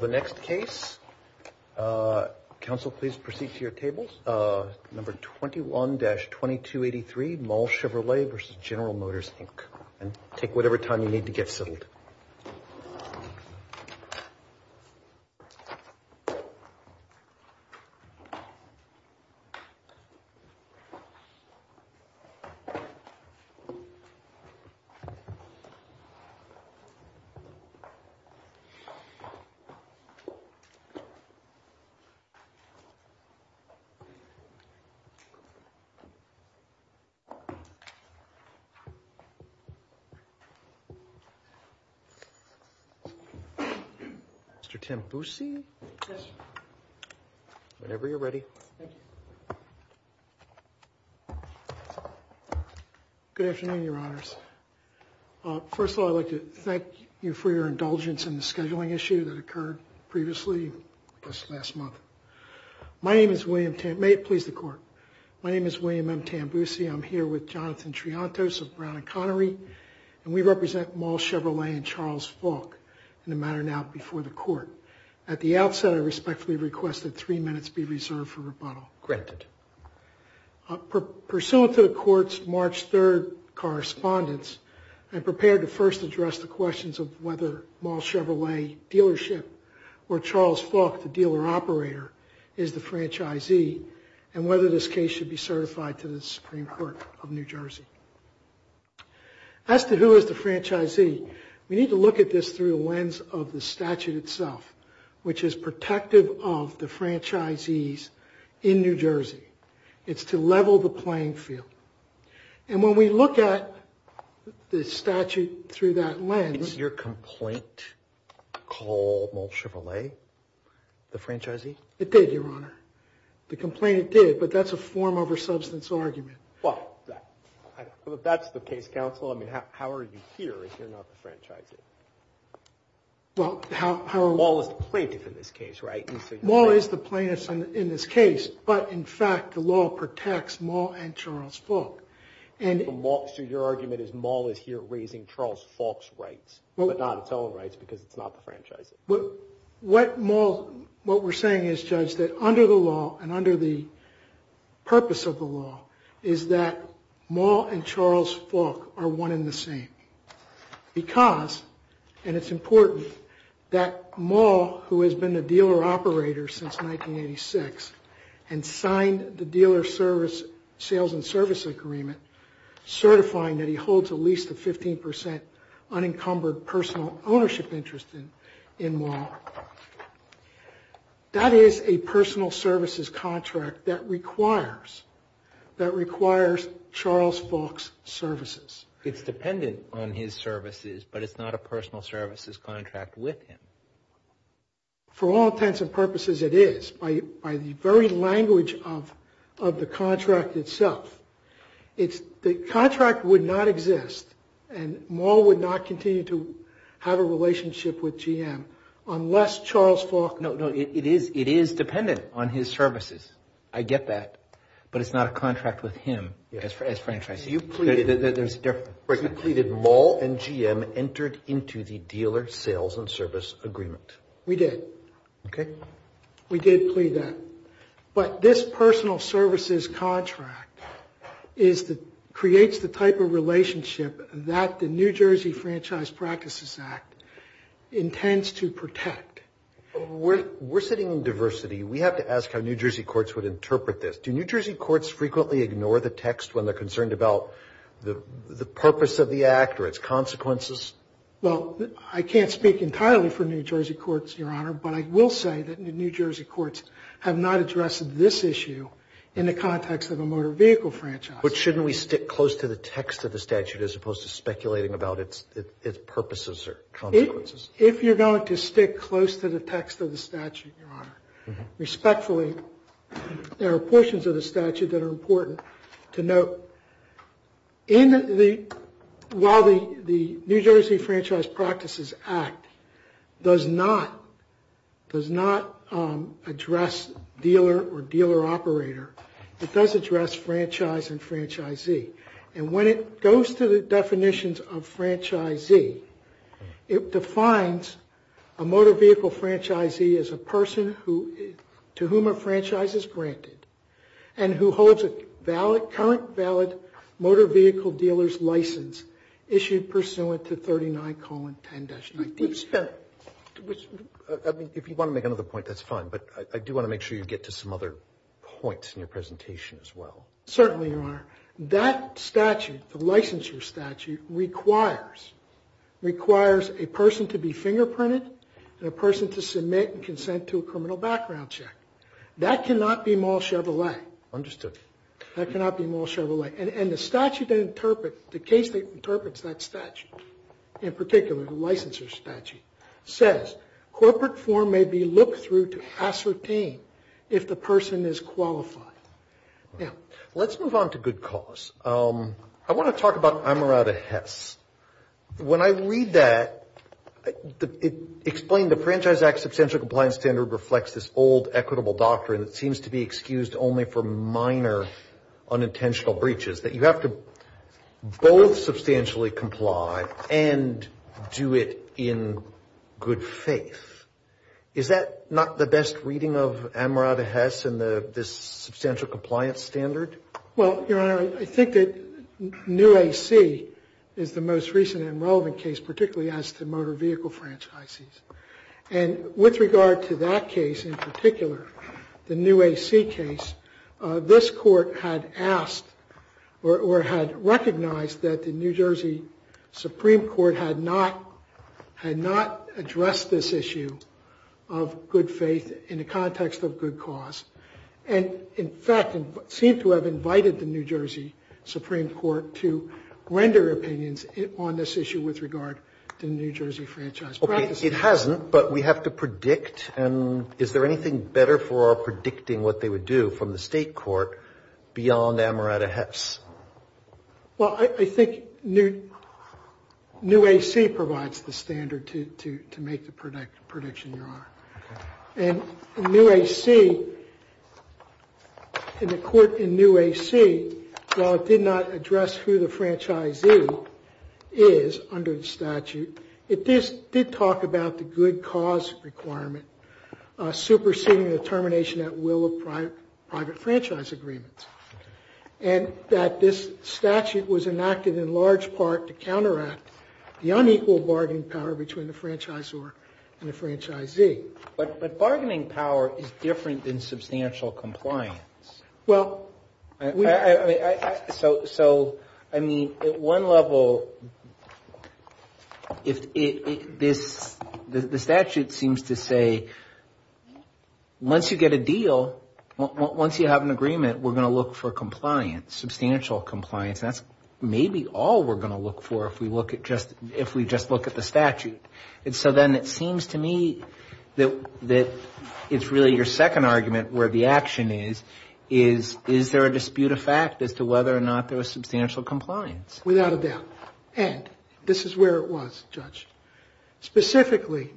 The next case. Council, please proceed to your tables. Number 21-2283, Moll Chevrolet v. General Motors Inc. And take whatever time you need to get settled. Mr. Tim Busey, whenever you're ready. Good afternoon, Your Honors. First of all, I'd like to thank you for your indulgence in the scheduling issue that occurred previously, I guess last month. My name is William, may it please the Court. My name is William M. Tim Busey. I'm here with Jonathan Triantos of Brown and Connery, and we represent Moll Chevrolet and Charles Falk in the matter now before the Court. At the outset, I respectfully request that three minutes be reserved for rebuttal. Granted. Pursuant to the Court's third correspondence, I'm prepared to first address the questions of whether Moll Chevrolet dealership or Charles Falk, the dealer operator, is the franchisee and whether this case should be certified to the Supreme Court of New Jersey. As to who is the franchisee, we need to look at this through the lens of the statute itself, which is protective of the franchisees in New Jersey. It's to level the playing field. And when we look at the statute through that lens... Is your complaint called Moll Chevrolet, the franchisee? It did, Your Honor. The complaint it did, but that's a form over substance argument. Well, that's the case counsel. I mean, how are you here if you're not the franchisee? Well, how... Moll is the plaintiff in this case, but in fact, the law protects Moll and Charles Falk. So your argument is Moll is here raising Charles Falk's rights, but not its own rights because it's not the franchisee? What we're saying is, Judge, that under the law and under the purpose of the law is that Moll and Charles Falk are one and the same. Because, and it's important, that Moll, who has been a dealer operator since 1986 and signed the dealer sales and service agreement certifying that he holds at least a 15% unencumbered personal ownership interest in Moll, that is a personal services contract that requires Charles Falk's services. It's dependent on his services, but it's not a personal services contract with him. For all intents and purposes, it is. By the very language of the contract itself, the contract would not exist and Moll would not continue to have a relationship with GM unless Charles Falk... No, it is dependent on his services. I get that, but it's not a contract with him as franchisee. You pleaded Moll and GM entered into the dealer sales and service agreement. We did. Okay. We did plead that. But this personal services contract creates the type of relationship that the New Jersey Franchise Practices Act intends to protect. We're sitting in diversity. We have to ask how New Jersey courts would interpret this. Do New Jersey courts frequently ignore the text when they're concerned about the purpose of the act or its consequences? Well, I can't speak entirely for New Jersey courts, Your Honor, but I will say that New Jersey courts have not addressed this issue in the context of a motor vehicle franchise. But shouldn't we stick close to the text of the statute as opposed to speculating about its purposes or consequences? If you're going to stick close to the text of the statute, Your Honor, respectfully, there are portions of the statute that are important to note. While the New Jersey Franchise Practices Act does not address dealer or dealer operator, it does address franchise and franchisee. And when it goes to the definitions of franchisee, it defines a motor vehicle franchisee as a person who, to whom a franchise is granted and who holds a valid, current valid motor vehicle dealer's license issued pursuant to 39-10-19. I mean, if you want to make another point, that's fine. But I do want to make sure you get to some other points in your presentation as well. Certainly, Your Honor. That statute, the licensure statute, requires a person to be fingerprinted and a person to submit and consent to a criminal background check. That cannot be mall Chevrolet. Understood. That cannot be mall Chevrolet. And the statute that interprets, the case that interprets that statute, in particular the licensure statute, says, corporate form may be looked through to ascertain if the person is qualified. Let's move on to good cause. I want to talk about Amarada Hess. When I read that, it explained the Franchise Act's substantial compliance standard reflects this old equitable doctrine that seems to be excused only for minor unintentional breaches, that you have to both substantially comply and do it in good faith. Is that not the best reading of Amarada Hess and the substantial compliance standard? Well, Your Honor, I think that New AC is the most recent and relevant case, particularly as to motor vehicle franchises. And with regard to that case in particular, the New AC case, this Court had asked or had recognized that the New Jersey Supreme Court had not addressed this issue of good faith in the context of good cause. And, in fact, seemed to have invited the New Jersey Supreme Court to render opinions on this issue with regard to New Jersey franchise practices. It hasn't, but we have to predict. And is there anything better for predicting what they would do from the state court beyond Amarada Hess? Well, I think New AC provides the standard to make the prediction, Your Honor. And New AC, in the court in New AC, while it did not address who the franchisee is under the statute, it did talk about the good cause requirement superseding the termination at will of private franchise agreements. And that this statute was enacted in large part to counteract the unequal bargaining power between the franchisor and the franchisee. But bargaining power is different than substantial compliance. Well, I mean, at one level, the statute seems to say, once you get a deal, once you have an agreement, we're going to look for compliance, substantial compliance. That's maybe all we're going to look for if we just look at the statute. And so then it seems to me that it's really your second argument where the action is, is, is there a dispute of fact as to whether or not there was substantial compliance? Without a doubt. And this is where it was, Judge. Specifically,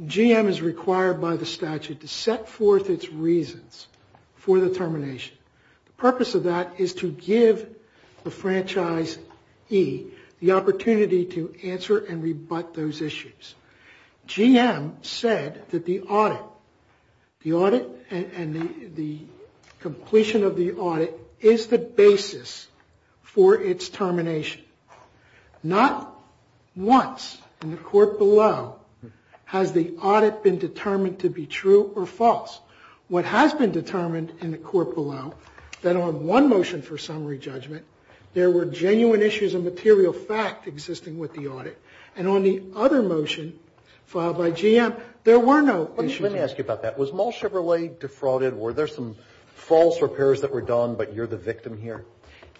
GM is required by the statute to set forth its reasons for the termination. The purpose of that is to give the franchise E the opportunity to answer and rebut those issues. GM said that the audit, the audit and the completion of the audit is the basis for its termination. Not once in the court below has the audit been determined to be true or false. What has been determined in the court below, that on one motion for summary judgment, there were genuine issues of material fact existing with the audit. And on the other motion filed by GM, there were no issues. Let me ask you about that. Was Mall Chevrolet defrauded? Were there some false repairs that were done, but you're the victim here?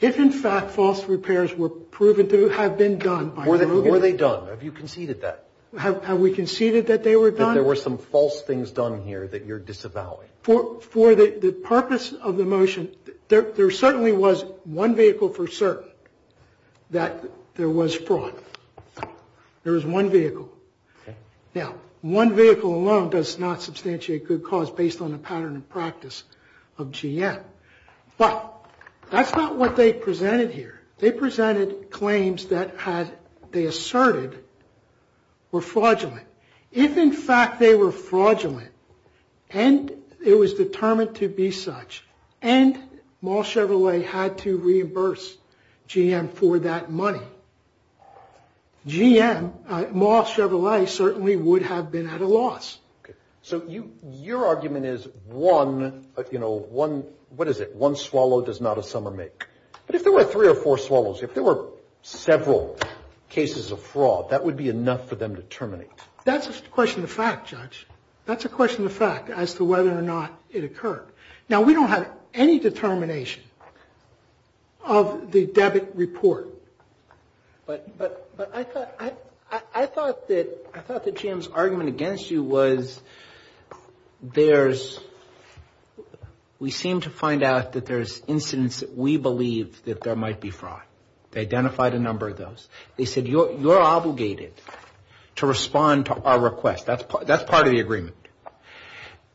If in fact false repairs were proven to have been done by... Were they done? Have you conceded that? Have we conceded that they were done? That there were some false things done here that you're disavowing. For the purpose of the motion, there certainly was one vehicle for certain that there was not substantiate good cause based on a pattern of practice of GM. But that's not what they presented here. They presented claims that they asserted were fraudulent. If in fact they were fraudulent, and it was determined to be such, and Mall Chevrolet had to reimburse GM for that money, GM, Mall Chevrolet certainly would have been at a loss. So your argument is one, you know, one, what is it, one swallow does not a summer make. But if there were three or four swallows, if there were several cases of fraud, that would be enough for them to terminate. That's a question of fact, Judge. That's a question of fact as to whether or not it occurred. Now we don't have any determination of the debit report. But I thought that GM's argument against you was there's, we seem to find out that there's incidents that we believe that there might be fraud. They identified a number of those. They said you're obligated to respond to our request. That's part of the agreement.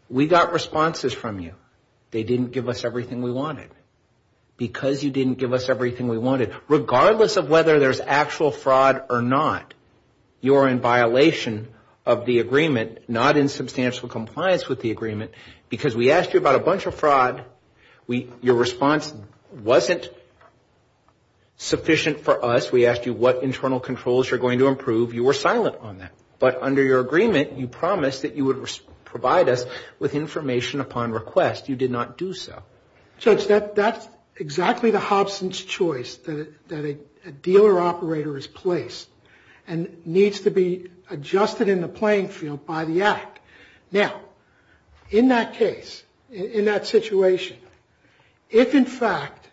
We got responses from you. They didn't give us everything we wanted. Because you didn't give us everything we wanted. Regardless of whether there's actual fraud or not, you're in violation of the agreement, not in substantial compliance with the agreement, because we asked you about a bunch of fraud. Your response wasn't sufficient for us. We asked you what internal controls you're going to improve. You were silent on that. But under your agreement, you promised that you would provide us with information upon request. You did not do so. Judge, that's exactly the Hobson's choice, that a dealer operator is placed and needs to be adjusted in the playing field by the act. Now, in that case, in that situation, if in fact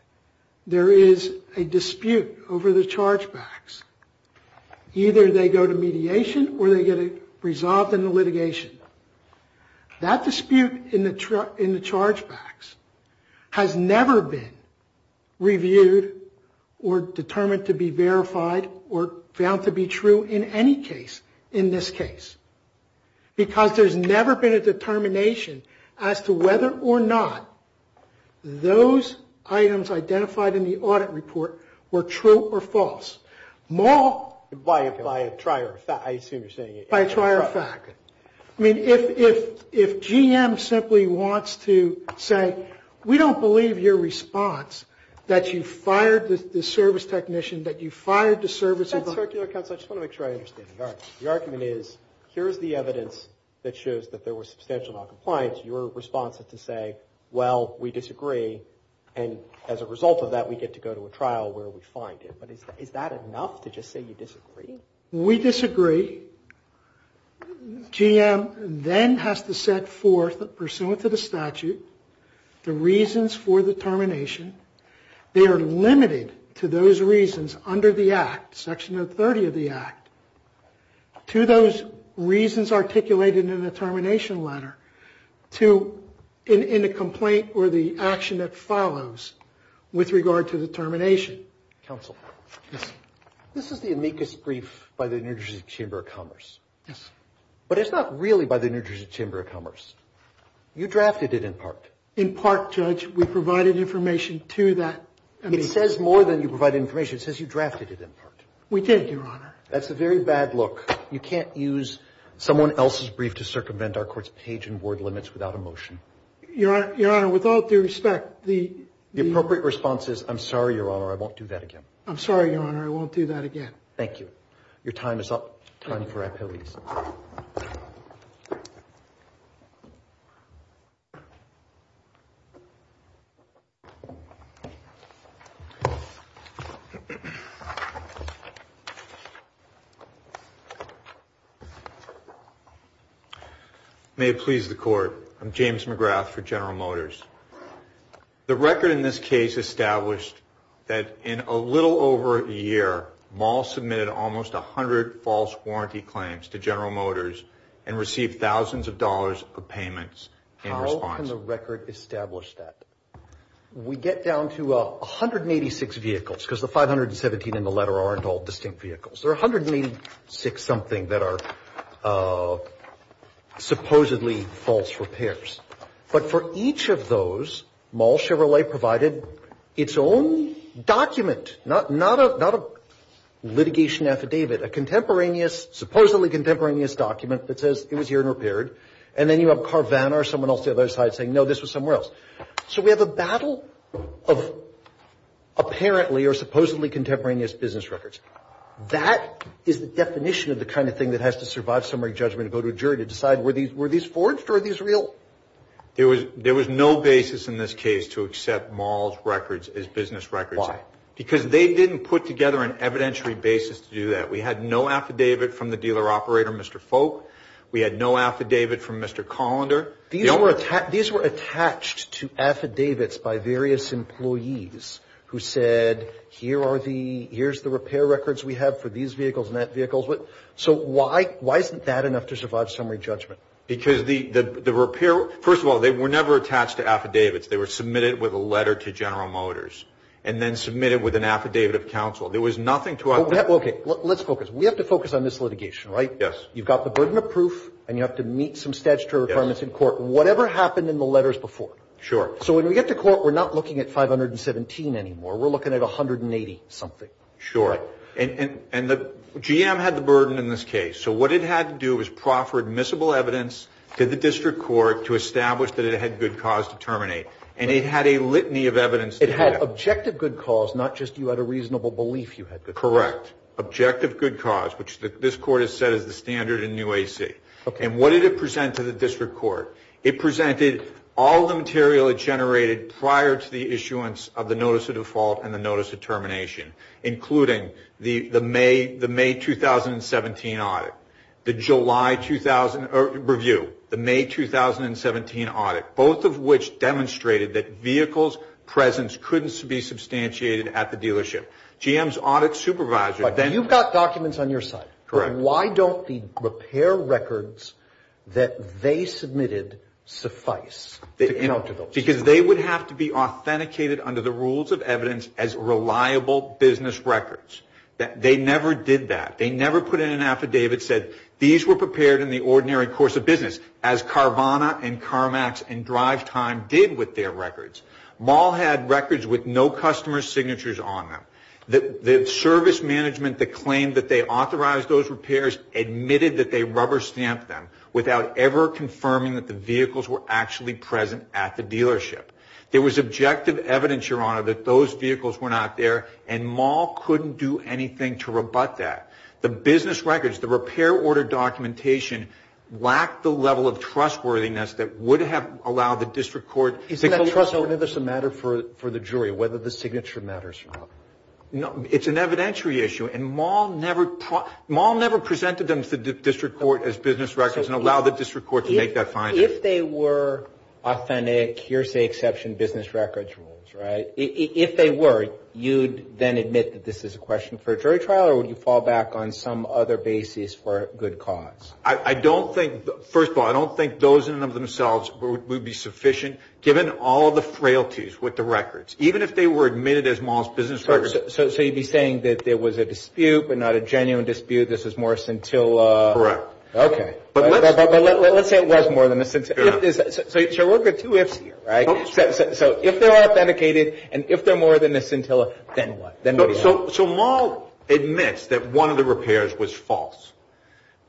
there is a dispute over the chargebacks, either they go to mediation or they get it resolved in the litigation. That dispute in the chargebacks has never been reviewed or determined to be verified or found to be true in any case in this case. Because there's never been a determination as to whether or not those items identified in the audit report were true or false. By a trier of fact, I assume you're saying. By a trier of fact. I mean, if GM simply wants to say, we don't believe your response, that you fired the service technician, that you fired the service of the... That's circular counsel. I just want to make sure I understand the argument. The argument is, here's the evidence that shows that there was substantial noncompliance. Your response is to say, well, we disagree, and as a result of that, we get to go to a Is that enough to just say you disagree? We disagree. GM then has to set forth, pursuant to the statute, the reasons for the termination. They are limited to those reasons under the Act, Section 330 of the Act, to those reasons articulated in the termination letter, in a complaint or the action that follows with regard to the termination. Counsel. Yes. This is the amicus brief by the New Jersey Chamber of Commerce. Yes. But it's not really by the New Jersey Chamber of Commerce. You drafted it in part. In part, Judge. We provided information to that... It says more than you provided information. It says you drafted it in part. We did, Your Honor. That's a very bad look. You can't use someone else's brief to circumvent our court's page and word limits without a motion. Your Honor, without due respect, the... The appropriate response is, I'm sorry, Your Honor, I won't do that again. I'm sorry, Your Honor, I won't do that again. Thank you. Your time is up. Time for appellees. May it please the Court, I'm James McGrath for General Motors. The record in this case established that in a little over a year, Maul submitted almost a hundred false warranty claims to General Motors and received thousands of dollars of payments in response. How can the record establish that? We get down to 186 vehicles, because the 517 in the letter aren't all distinct vehicles. There are 186-something that are supposedly false repairs. But for each of those, Maul Chevrolet provided its own document, not a litigation affidavit, a contemporaneous, supposedly contemporaneous document that says it was here and repaired. And then you have Carvana or someone else the other side saying, no, this was somewhere else. So we have a battle of apparently or supposedly contemporaneous business records. That is the definition of the kind of thing that has to survive summary judgment and go to a jury to decide, were these forged or are these real? There was no basis in this case to accept Maul's records as business records. Why? Because they didn't put together an evidentiary basis to do that. We had no affidavit from the dealer operator, Mr. Folk. We had no affidavit from Mr. Colander. These were attached to affidavits by various employees who said, here's the repair records we have for these vehicles and that vehicle. So why isn't that enough to survive summary judgment? Because the repair, first of all, they were never attached to affidavits. They were submitted with a letter to General Motors and then submitted with an affidavit of counsel. There was nothing to it. Okay, let's focus. We have to focus on this litigation, right? Yes. You've got the burden of proof and you have to meet some statutory requirements in court, whatever happened in the letters before. Sure. So when we get to court, we're not looking at 517 anymore. We're looking at 180 something. Sure. And the GM had the burden in this case. So what it had to do was proffer admissible evidence to the district court to establish that it had good cause to terminate. And it had a litany of evidence. It had objective good cause, not just you had a reasonable belief you had good cause. Correct. Objective good cause, which this court has said is the standard in new AC. And what did it present to the district court? It presented all the material it generated prior to the issuance of the notice of default and the notice of termination, including the that vehicles presence couldn't be substantiated at the dealership. GM's audit supervisor... But you've got documents on your side. Correct. Why don't the repair records that they submitted suffice to counter those? Because they would have to be authenticated under the rules of evidence as reliable business records. They never did that. They never put in an affidavit that said these were prepared in the ordinary course of business, as Carvana and CarMax and DriveTime did with their records. MAHL had records with no customer signatures on them. The service management that claimed that they authorized those repairs admitted that they rubber stamped them without ever confirming that the vehicles were actually present at the dealership. There was objective evidence, Your Honor, that those vehicles were not there, and MAHL couldn't do anything to rebut that. The business records, the repair order documentation, lacked the level of trustworthiness that would have allowed the district court... Isn't that trustworthiness a matter for the jury, whether the signature matters or not? It's an evidentiary issue, and MAHL never presented them to the district court as business records and allowed the district court to make that finding. If they were authentic hearsay exception business records rules, right? If they were, you'd then admit that this is a question for a jury trial, or would you fall back on some other basis for good cause? I don't think, first of all, I don't think those in and of themselves would be sufficient, given all the frailties with the records. Even if they were admitted as MAHL's business records... So you'd be saying that there was a dispute, but not a genuine dispute, this is more scintilla? Correct. Okay. But let's say it was more than a scintilla. So we'll get two ifs here, right? So if they're So MAHL admits that one of the repairs was false.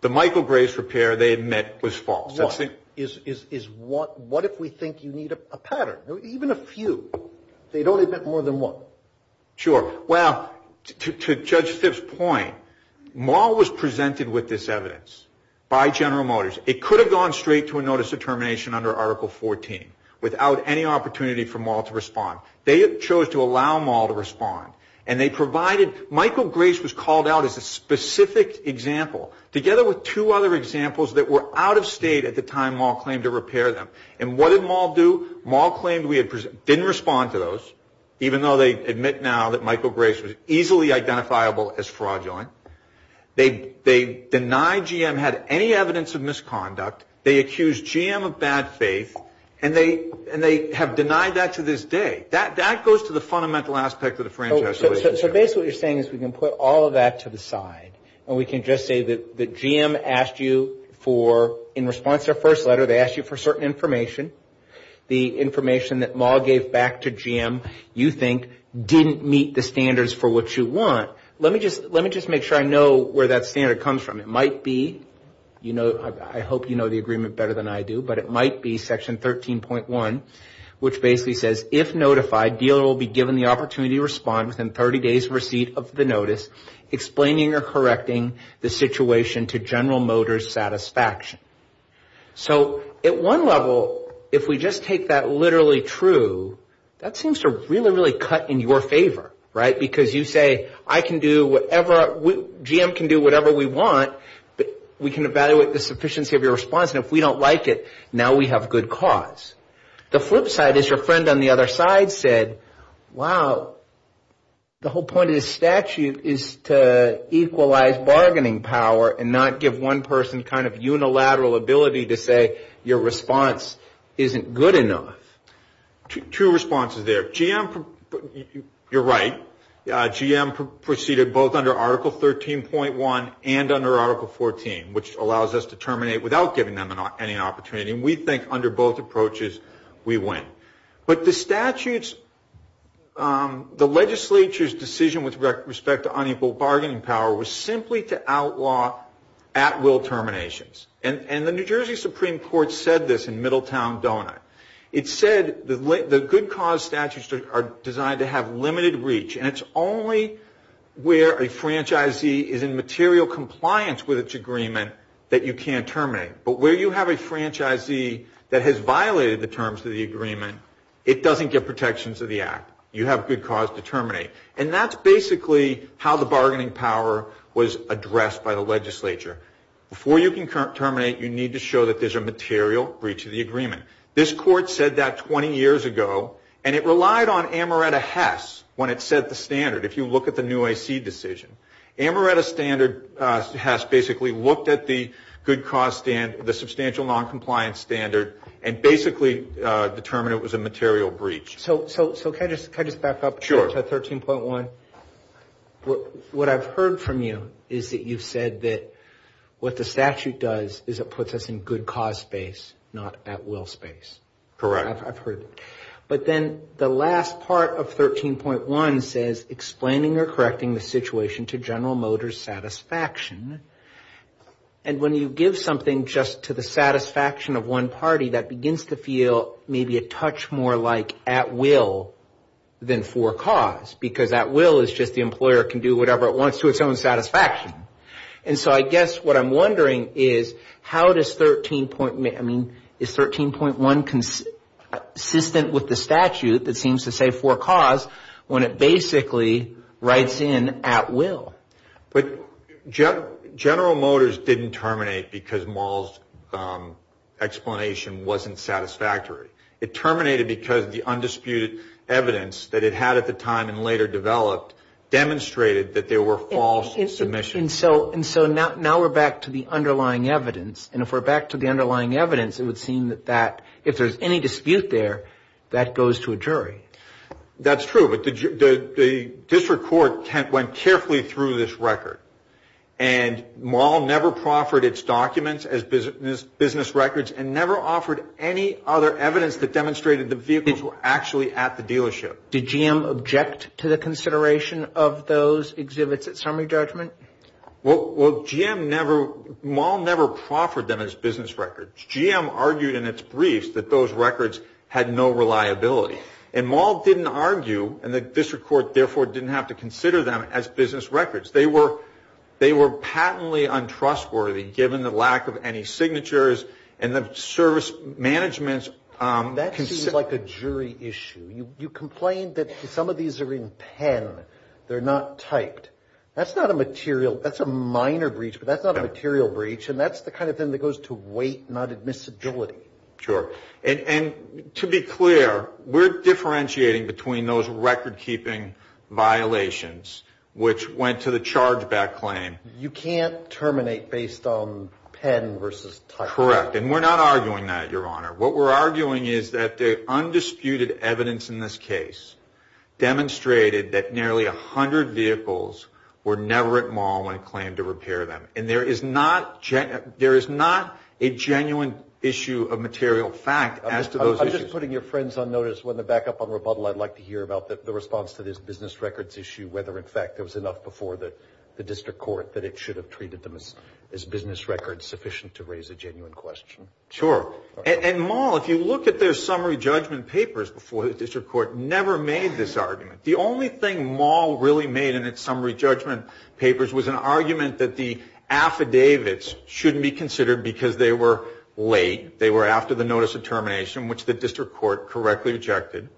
The Michael Grace repair they admit was false. What? What if we think you need a pattern? Even a few, they'd only admit more than one. Sure. Well, to Judge Stipp's point, MAHL was presented with this evidence by General Motors. It could have gone straight to a notice of termination under Article 14 without any opportunity for MAHL to respond. They chose to allow MAHL to respond. And they provided... Michael Grace was called out as a specific example, together with two other examples that were out of state at the time MAHL claimed to repair them. And what did MAHL do? MAHL claimed we didn't respond to those, even though they admit now that Michael Grace was easily identifiable as fraudulent. They deny GM had any evidence of misconduct. They accuse GM of bad faith. And they have denied that to this day. That goes to the fundamental aspect of the franchise relationship. So basically what you're saying is we can put all of that to the side. And we can just say that GM asked you for, in response to their first letter, they asked you for certain information. The information that MAHL gave back to GM, you think, didn't meet the standards for what you want. Let me just make sure I know where that standard comes from. It might be, you know, I hope you know the agreement better than I do, but it might be Section 13.1, which basically says, if notified, dealer will be given the opportunity to respond within 30 days of receipt of the notice, explaining or correcting the situation to General Motors' satisfaction. So at one level, if we just take that literally true, that seems to really, really cut in your favor, right? Because you say, I can do whatever, GM can do whatever we want, but we can evaluate the sufficiency of your response. And if we don't like it, now we have good cause. The flip side is your friend on the other side said, wow, the whole point of this statute is to equalize bargaining power and not give one person kind of unilateral ability to say your response isn't good enough. Two responses there. GM, you're right, GM proceeded both under Article 13.1 and under any opportunity. And we think under both approaches, we win. But the statutes, the legislature's decision with respect to unequal bargaining power was simply to outlaw at-will terminations. And the New Jersey Supreme Court said this in Middletown Donut. It said the good cause statutes are designed to have limited reach, and it's only where a franchisee is in material compliance with its agreement that you can't terminate. But where you have a franchisee that has violated the terms of the agreement, it doesn't get protections of the act. You have good cause to terminate. And that's basically how the bargaining power was addressed by the legislature. Before you can terminate, you need to show that there's a material breach of the agreement. This court said that 20 years ago, and it relied on Amaretta Hess when it set the standard. If you look at the new AC decision, Amaretta standard has basically looked at the good cause standard, the substantial noncompliance standard, and basically determined it was a material breach. So can I just back up to 13.1? Sure. What I've heard from you is that you've said that what the statute does is it puts us in good cause space, not at-will space. Correct. I've heard it. But then the last part of 13.1 says, explaining or correcting the situation to General Motors' satisfaction. And when you give something just to the satisfaction of one party, that begins to feel maybe a touch more like at-will than for cause, because at-will is just the employer can do whatever it wants to its own satisfaction. So I guess what I'm wondering is how does 13.1, I mean, is 13.1 consistent with the statute that seems to say for cause, when it basically writes in at-will? General Motors didn't terminate because Maul's explanation wasn't satisfactory. It terminated because the undisputed evidence that it had at the time and later developed demonstrated that there were false submissions. And so now we're back to the underlying evidence. And if we're back to the underlying evidence, it would seem that if there's any dispute there, that goes to a jury. That's true. But the district court went carefully through this record. And Maul never proffered its documents as business records and never offered any other evidence that demonstrated the vehicles were actually at the dealership. Did GM object to the consideration of those exhibits at summary judgment? Well, GM never, Maul never proffered them as business records. GM argued in its briefs that those records had no reliability. And Maul didn't argue, and the district court therefore didn't have to consider them as business records. They were patently untrustworthy given the lack of any signatures and the service management's... I find that some of these are in pen. They're not typed. That's not a material, that's a minor breach, but that's not a material breach. And that's the kind of thing that goes to weight, not admissibility. Sure. And to be clear, we're differentiating between those record keeping violations, which went to the charge back claim. You can't terminate based on pen versus type. Correct. And we're not arguing that, Your evidence in this case demonstrated that nearly a hundred vehicles were never at Maul when it claimed to repair them. And there is not a genuine issue of material fact as to those issues. I'm just putting your friends on notice. When they're back up on rebuttal, I'd like to hear about the response to this business records issue, whether, in fact, there was enough before the district court that it should have treated them as business records sufficient to raise a genuine question. Sure. And Maul, if you look at their summary judgment papers before the district court, never made this argument. The only thing Maul really made in its summary judgment papers was an argument that the affidavits shouldn't be considered because they were late. They were after the notice of termination, which the district court correctly rejected.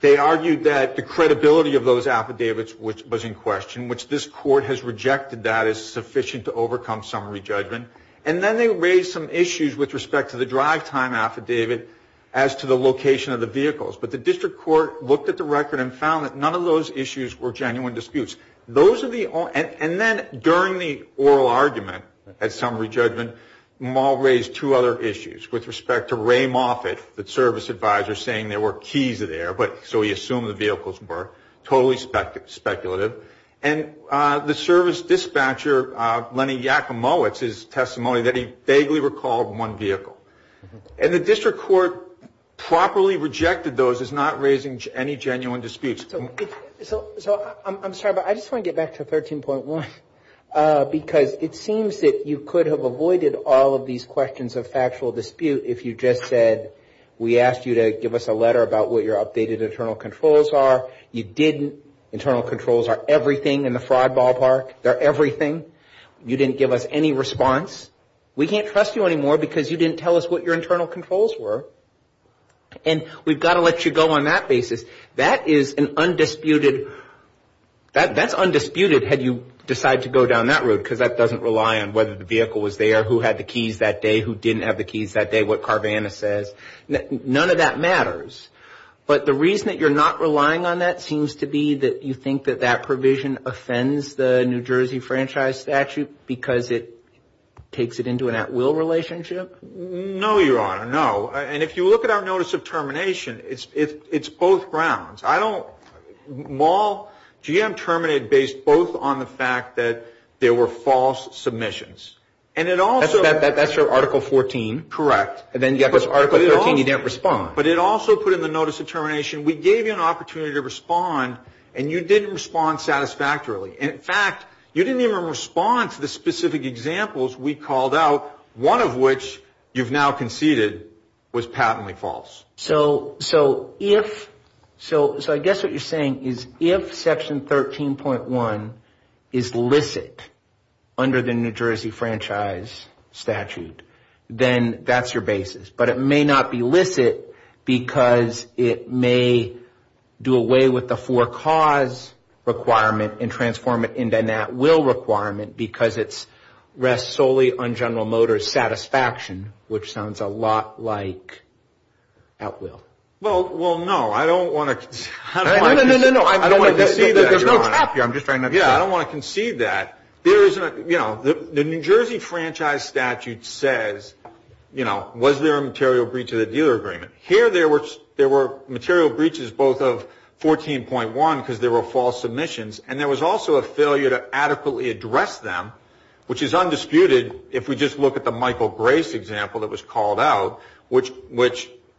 They argued that the credibility of those affidavits, which was in question, which this court has rejected that is sufficient to overcome summary judgment. And then they raised some issues with respect to the drive time affidavit as to the location of the vehicles. But the district court looked at the record and found that none of those issues were genuine disputes. Those are the only, and then during the oral argument at summary judgment, Maul raised two other issues with respect to Ray Moffitt, the service advisor, saying there were keys there, but so he assumed the vehicles were totally speculative. And the service dispatcher, Lenny Yakimo, it's his testimony that he vaguely recalled one vehicle. And the district court properly rejected those as not raising any genuine disputes. So I'm sorry, but I just want to get back to 13.1 because it seems that you could have avoided all of these questions of factual dispute if you just said we asked you to give us a letter about what your updated internal controls are. You didn't. Internal controls are everything in the fraud ballpark. They're everything. You didn't give us any response. We can't trust you anymore because you didn't tell us what your internal controls were. And we've got to let you go on that basis. That is an undisputed, that's undisputed had you decided to go down that road because that doesn't rely on whether the vehicle was there, who had the keys that day, who didn't have the keys that day, what Carvana says. None of that matters. But the reason that you're not relying on that seems to be that you think that that takes it into an at-will relationship? No, Your Honor, no. And if you look at our notice of termination, it's both grounds. I don't, Maul, GM terminated based both on the fact that there were false submissions. And it also That's your Article 14. Correct. And then you have this Article 13, you didn't respond. But it also put in the notice of termination, we gave you an opportunity to respond and you didn't respond satisfactorily. In fact, you didn't even respond to the specific examples we called out, one of which you've now conceded was patently false. So if, so I guess what you're saying is if Section 13.1 is licit under the New Jersey Franchise Statute, then that's your basis. But it may not be licit because it may do away with the for-cause requirement and transform it into an at-will requirement because it is solely on General Motors' satisfaction, which sounds a lot like at-will. Well, no, I don't want to concede that, Your Honor. No, no, no, no, I don't want to concede that. There's no tap here, I'm just trying to understand. Yeah, I don't want to concede that. There is a, you know, the New Jersey Franchise Statute says, you know, was there a material breach of the dealer agreement? Here there were material breaches both of 14.1 because there were false submissions and there was also a failure to undisputed, if we just look at the Michael Grace example that was called out, which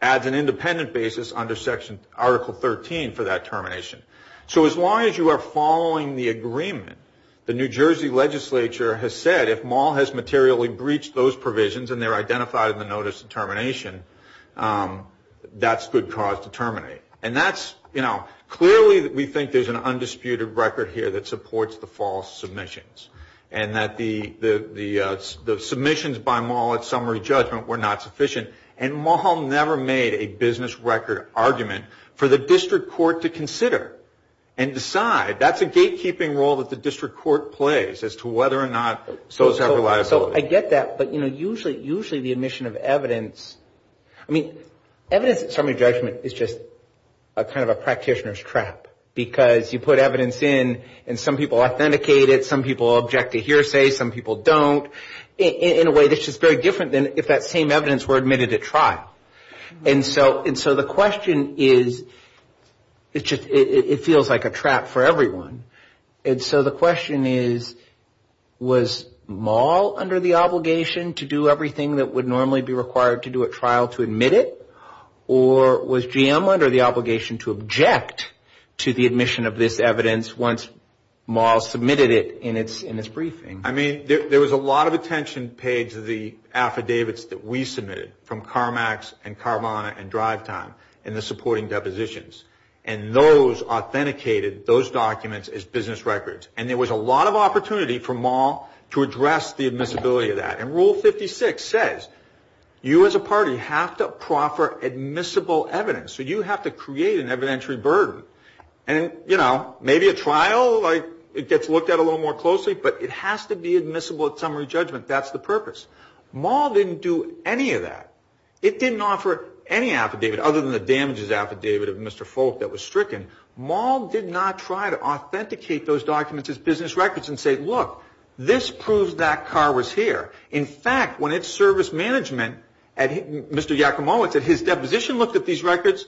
adds an independent basis under Section, Article 13 for that termination. So as long as you are following the agreement, the New Jersey legislature has said if Maul has materially breached those provisions and they're identified in the Notice of Termination, that's good cause to terminate. And that's, you know, clearly we think there's an undisputed record here that supports the false submissions. And that the submissions by Maul at summary judgment were not sufficient. And Maul never made a business record argument for the district court to consider and decide. That's a gatekeeping role that the district court plays as to whether or not those have reliability. So I get that, but, you know, usually the admission of evidence, I mean, evidence at trial is kind of a practitioner's trap. Because you put evidence in and some people authenticate it, some people object to hearsay, some people don't. In a way, it's just very different than if that same evidence were admitted at trial. And so the question is, it feels like a trap for everyone. And so the question is, was Maul under the obligation to do everything that would normally be required to do at trial to admit it? Or was GM under the obligation to object to the admission of this evidence once Maul submitted it in its briefing? I mean, there was a lot of attention paid to the affidavits that we submitted from CarMax and Carvana and DriveTime in the supporting depositions. And those authenticated those documents as business records. And there was a lot of opportunity for Maul to address the admissibility of that. And Rule 56 says, you as a party have to proffer admissible evidence. So you have to create an evidentiary burden. And, you know, maybe a trial, like, it gets looked at a little more closely, but it has to be admissible at summary judgment. That's the purpose. Maul didn't do any of that. It didn't offer any affidavit other than the damages affidavit of Mr. Folk that was stricken. Maul did not try to authenticate those documents as business records and say, look, this proves that car was here. In fact, when its service management, Mr. Yakumo, at his deposition looked at these records,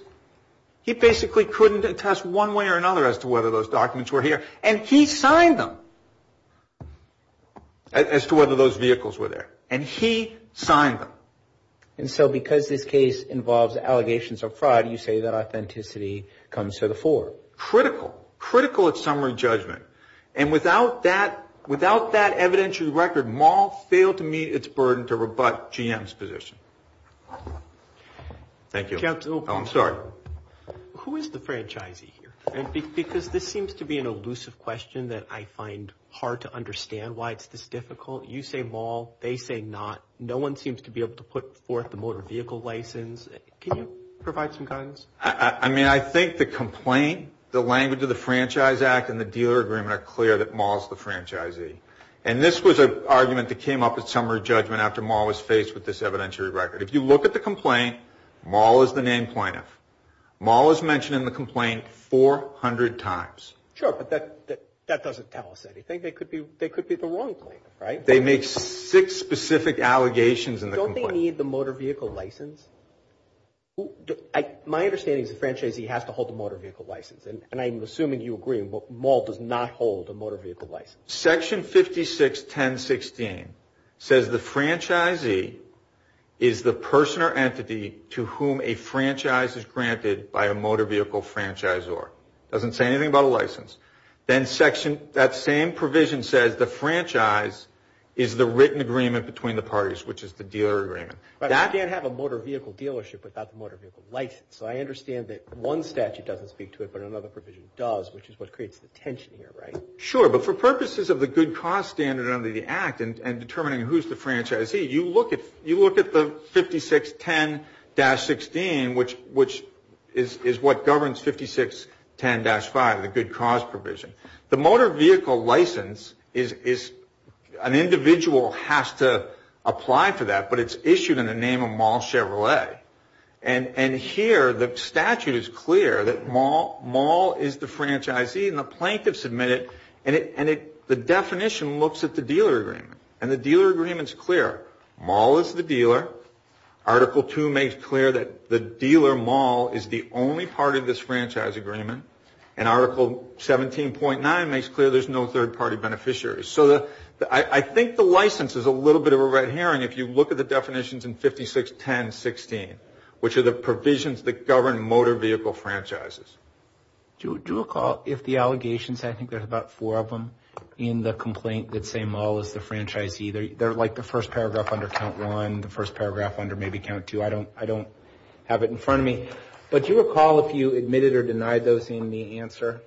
he basically couldn't attest one way or another as to whether those documents were here. And he signed them as to whether those vehicles were there. And he signed them. And so because this case involves allegations of fraud, you say that authenticity comes to the fore. Critical. Critical at summary judgment. And without that evidentiary record, Maul failed to meet its burden to rebut GM's position. Thank you. Oh, I'm sorry. Who is the franchisee here? Because this seems to be an elusive question that I find hard to understand why it's this difficult. You say Maul. They say not. No one seems to be able to put forth the motor vehicle license. Can you provide some guidance? I mean, I think the complaint, the language of the Franchise Act and the dealer agreement are clear that Maul is the franchisee. And this was an argument that came up at summary judgment after Maul was faced with this evidentiary record. If you look at the complaint, Maul is the named plaintiff. Maul is mentioned in the complaint 400 times. Sure, but that doesn't tell us anything. They could be the wrong plaintiff, right? They make six specific allegations in the complaint. Don't they need the motor vehicle license? My understanding is the franchisee has to have a motor vehicle license. And I'm assuming you agree Maul does not hold a motor vehicle license. Section 56.10.16 says the franchisee is the person or entity to whom a franchise is granted by a motor vehicle franchisor. Doesn't say anything about a license. Then that same provision says the franchise is the written agreement between the parties, which is the dealer agreement. But you can't have a motor vehicle dealership without the motor vehicle license. So I understand that one statute doesn't speak to it, but another provision does, which is what creates the tension here, right? Sure, but for purposes of the good cause standard under the Act and determining who's the franchisee, you look at the 56.10.16, which is what governs 56.10.5, the good cause provision. The motor vehicle license is an individual has to apply for that, but it's issued in the name of Maul Chevrolet. And here the statute is clear that Maul is the franchisee and the plaintiff submitted and the definition looks at the dealer agreement. And the dealer agreement is clear. Maul is the dealer. Article 2 makes clear that the dealer Maul is the only party of this franchise agreement. And Article 17.9 makes clear there's no third party beneficiary. So I think the license is a little bit of a red herring. If you look at the definitions in 56.10.16, which are the provisions that govern motor vehicle franchises. Do you recall if the allegations, I think there's about four of them, in the complaint that say Maul is the franchisee, they're like the first paragraph under count one, the first paragraph under maybe count two. I don't have it in front of me. But do you recall if you admitted or denied those in the answer?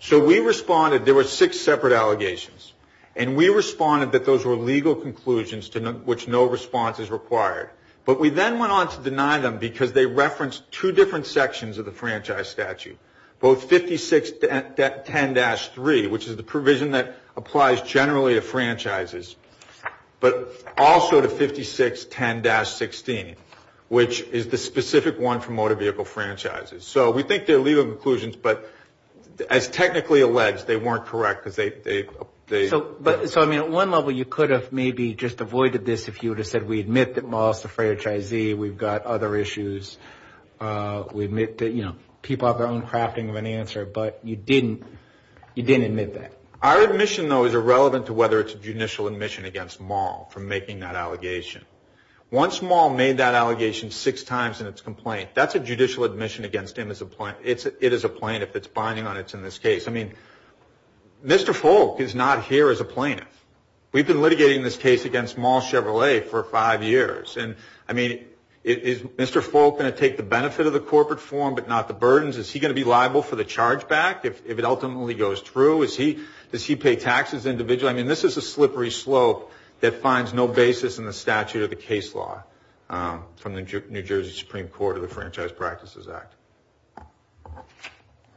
So we responded, there were six separate allegations. And we responded that those were legal conclusions which no response is required. But we then went on to deny them because they referenced two different sections of the franchise statute. Both 56.10-3, which is the provision that applies generally to franchises. But also to 56.10-16, which is the specific one for motor vehicle franchises. So we think they're legal conclusions, but as technically alleged, they weren't correct because they... So at one level you could have maybe just avoided this if you would have said we admit that Maul is the franchisee, we've got other issues. We admit that people have their own crafting of an answer, but you didn't admit that. Our admission though is irrelevant to whether it's judicial admission against Maul for making that allegation. Once Maul made that allegation six times in its complaint, that's a judicial admission against him as a plaintiff. It is a plaintiff. It's binding on it in this case. I mean, Mr. Folk is not here as a plaintiff. We've been litigating this case against Maul Chevrolet for five years. I mean, is Mr. Folk going to take the benefit of the corporate form but not the burdens? Is he going to be liable for the charge back if it ultimately goes through? Does he pay taxes individually? I mean, this is a slippery slope that finds no basis in the statute of the case law from the New Jersey Supreme Court or the Franchise Practices Act.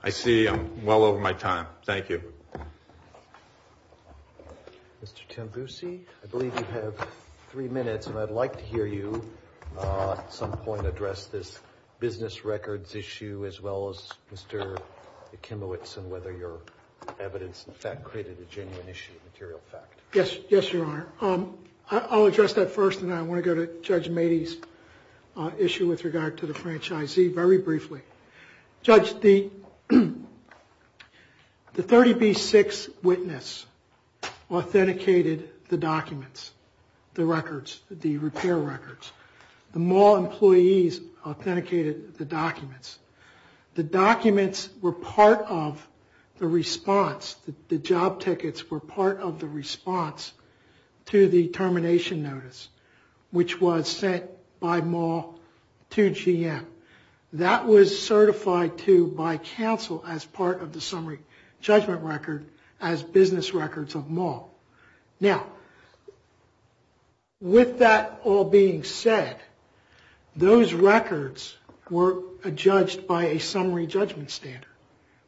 I see I'm well over my time. Thank you. Mr. Tembusi, I believe you have three minutes, and I'd like to hear you at some point address this business records issue as well as Mr. Akimowitz and whether your evidence in fact created a genuine issue of material fact. Yes. Yes, Your Honor. I'll address that first, and I want to go to Judge Mady's issue with regard to the franchisee very briefly. Judge, the 30B6 witness authenticated the documents, the records, the repair records. The Maul employees authenticated the documents. The documents were part of the response. The job tickets were part of the response to the termination notice, which was sent by Maul to GM. That was certified, too, by counsel as part of the summary judgment record as business records of Maul. Now, with that all being said, those records were judged by a summary judgment standard.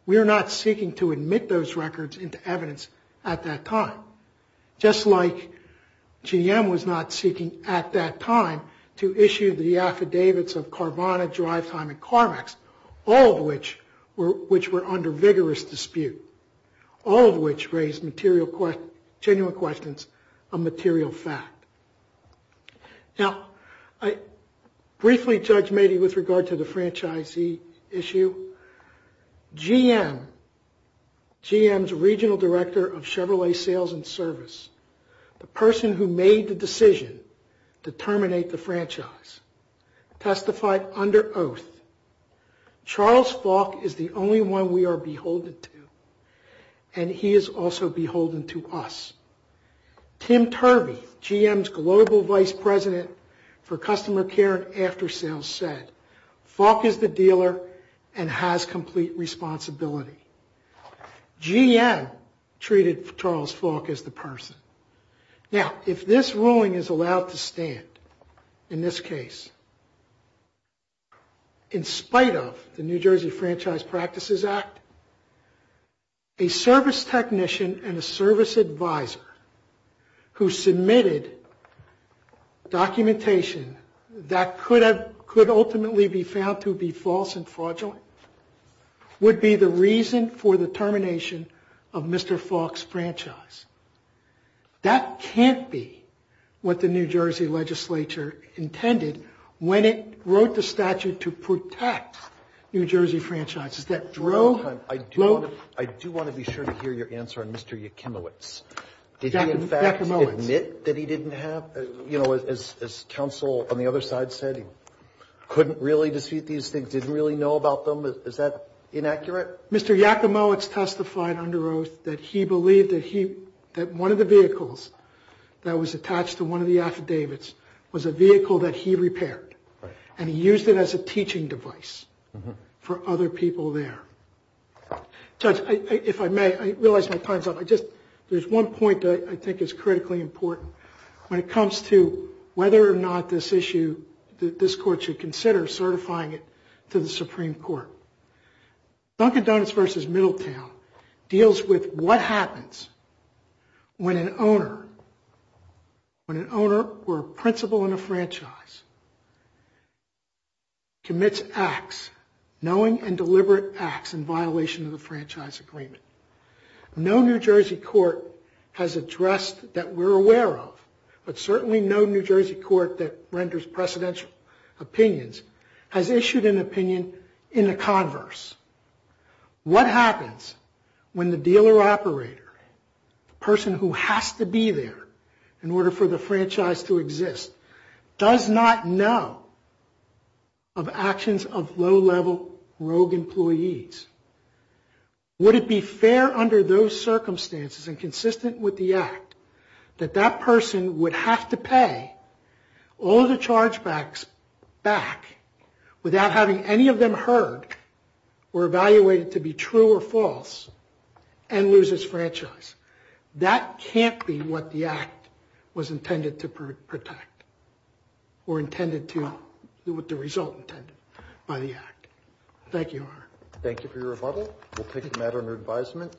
We are not seeking to admit those records. We are not seeking at that time to issue the affidavits of Carvana, DriveTime, and CarMax, all of which were under vigorous dispute, all of which raised genuine questions of material fact. Now, I briefly judge Mady with regard to the franchisee issue. GM, GM's regional director of Chevrolet sales and service, the person who made the decision to terminate the franchise, testified under oath, Charles Falk is the only one we are beholden to, and he is also beholden to us. Tim Turby, GM's global vice president for customer care and after sales, said, Falk is the dealer and has complete responsibility. GM treated Charles Falk as the person. Now, if this ruling is allowed to stand, in this case, in spite of the New Jersey Franchise Practices Act, a service technician and a service advisor who submitted documentation that could ultimately be found to be false and fraudulent would be the reason for the termination of Mr. Falk's franchise. That can't be what the New Jersey legislature intended when it wrote the statute to protect New Jersey franchises. Is that true? I do want to be sure to hear your answer on Mr. Yakimowitz. Did he, in fact, admit that he didn't have, you know, as counsel on the other side said, he couldn't really dispute these things, didn't really know about them? Is that inaccurate? Mr. Yakimowitz testified under oath that he believed that one of the vehicles that was attached to one of the affidavits was a vehicle that he repaired, and he used it as a teaching device for other people there. Judge, if I may, I realize my time's up. There's one point that I think is critically important when it comes to whether or not this issue, this court should consider certifying it to the Supreme Court. Dunkin' Donuts versus Middletown deals with what happens when an owner, or a principal in a franchise, commits acts, knowing and deliberate acts, in violation of the franchise agreement. No New Jersey court has addressed that we're aware of, but certainly no New Jersey court that renders precedential opinions has issued an opinion in a converse. What happens when the dealer operator, the person who has to be there in order for the franchise to exist, does not know of actions of low-level rogue employees? Would it be fair under those circumstances and consistent with the act that that person would have to pay all of the chargebacks back without having any of them heard or evaluated to be true or false and lose his franchise? That can't be what the act was intended to protect or what the result intended by the act. Thank you, Your Honor. Thank you for your rebuttal. We'll take a matter under advisement.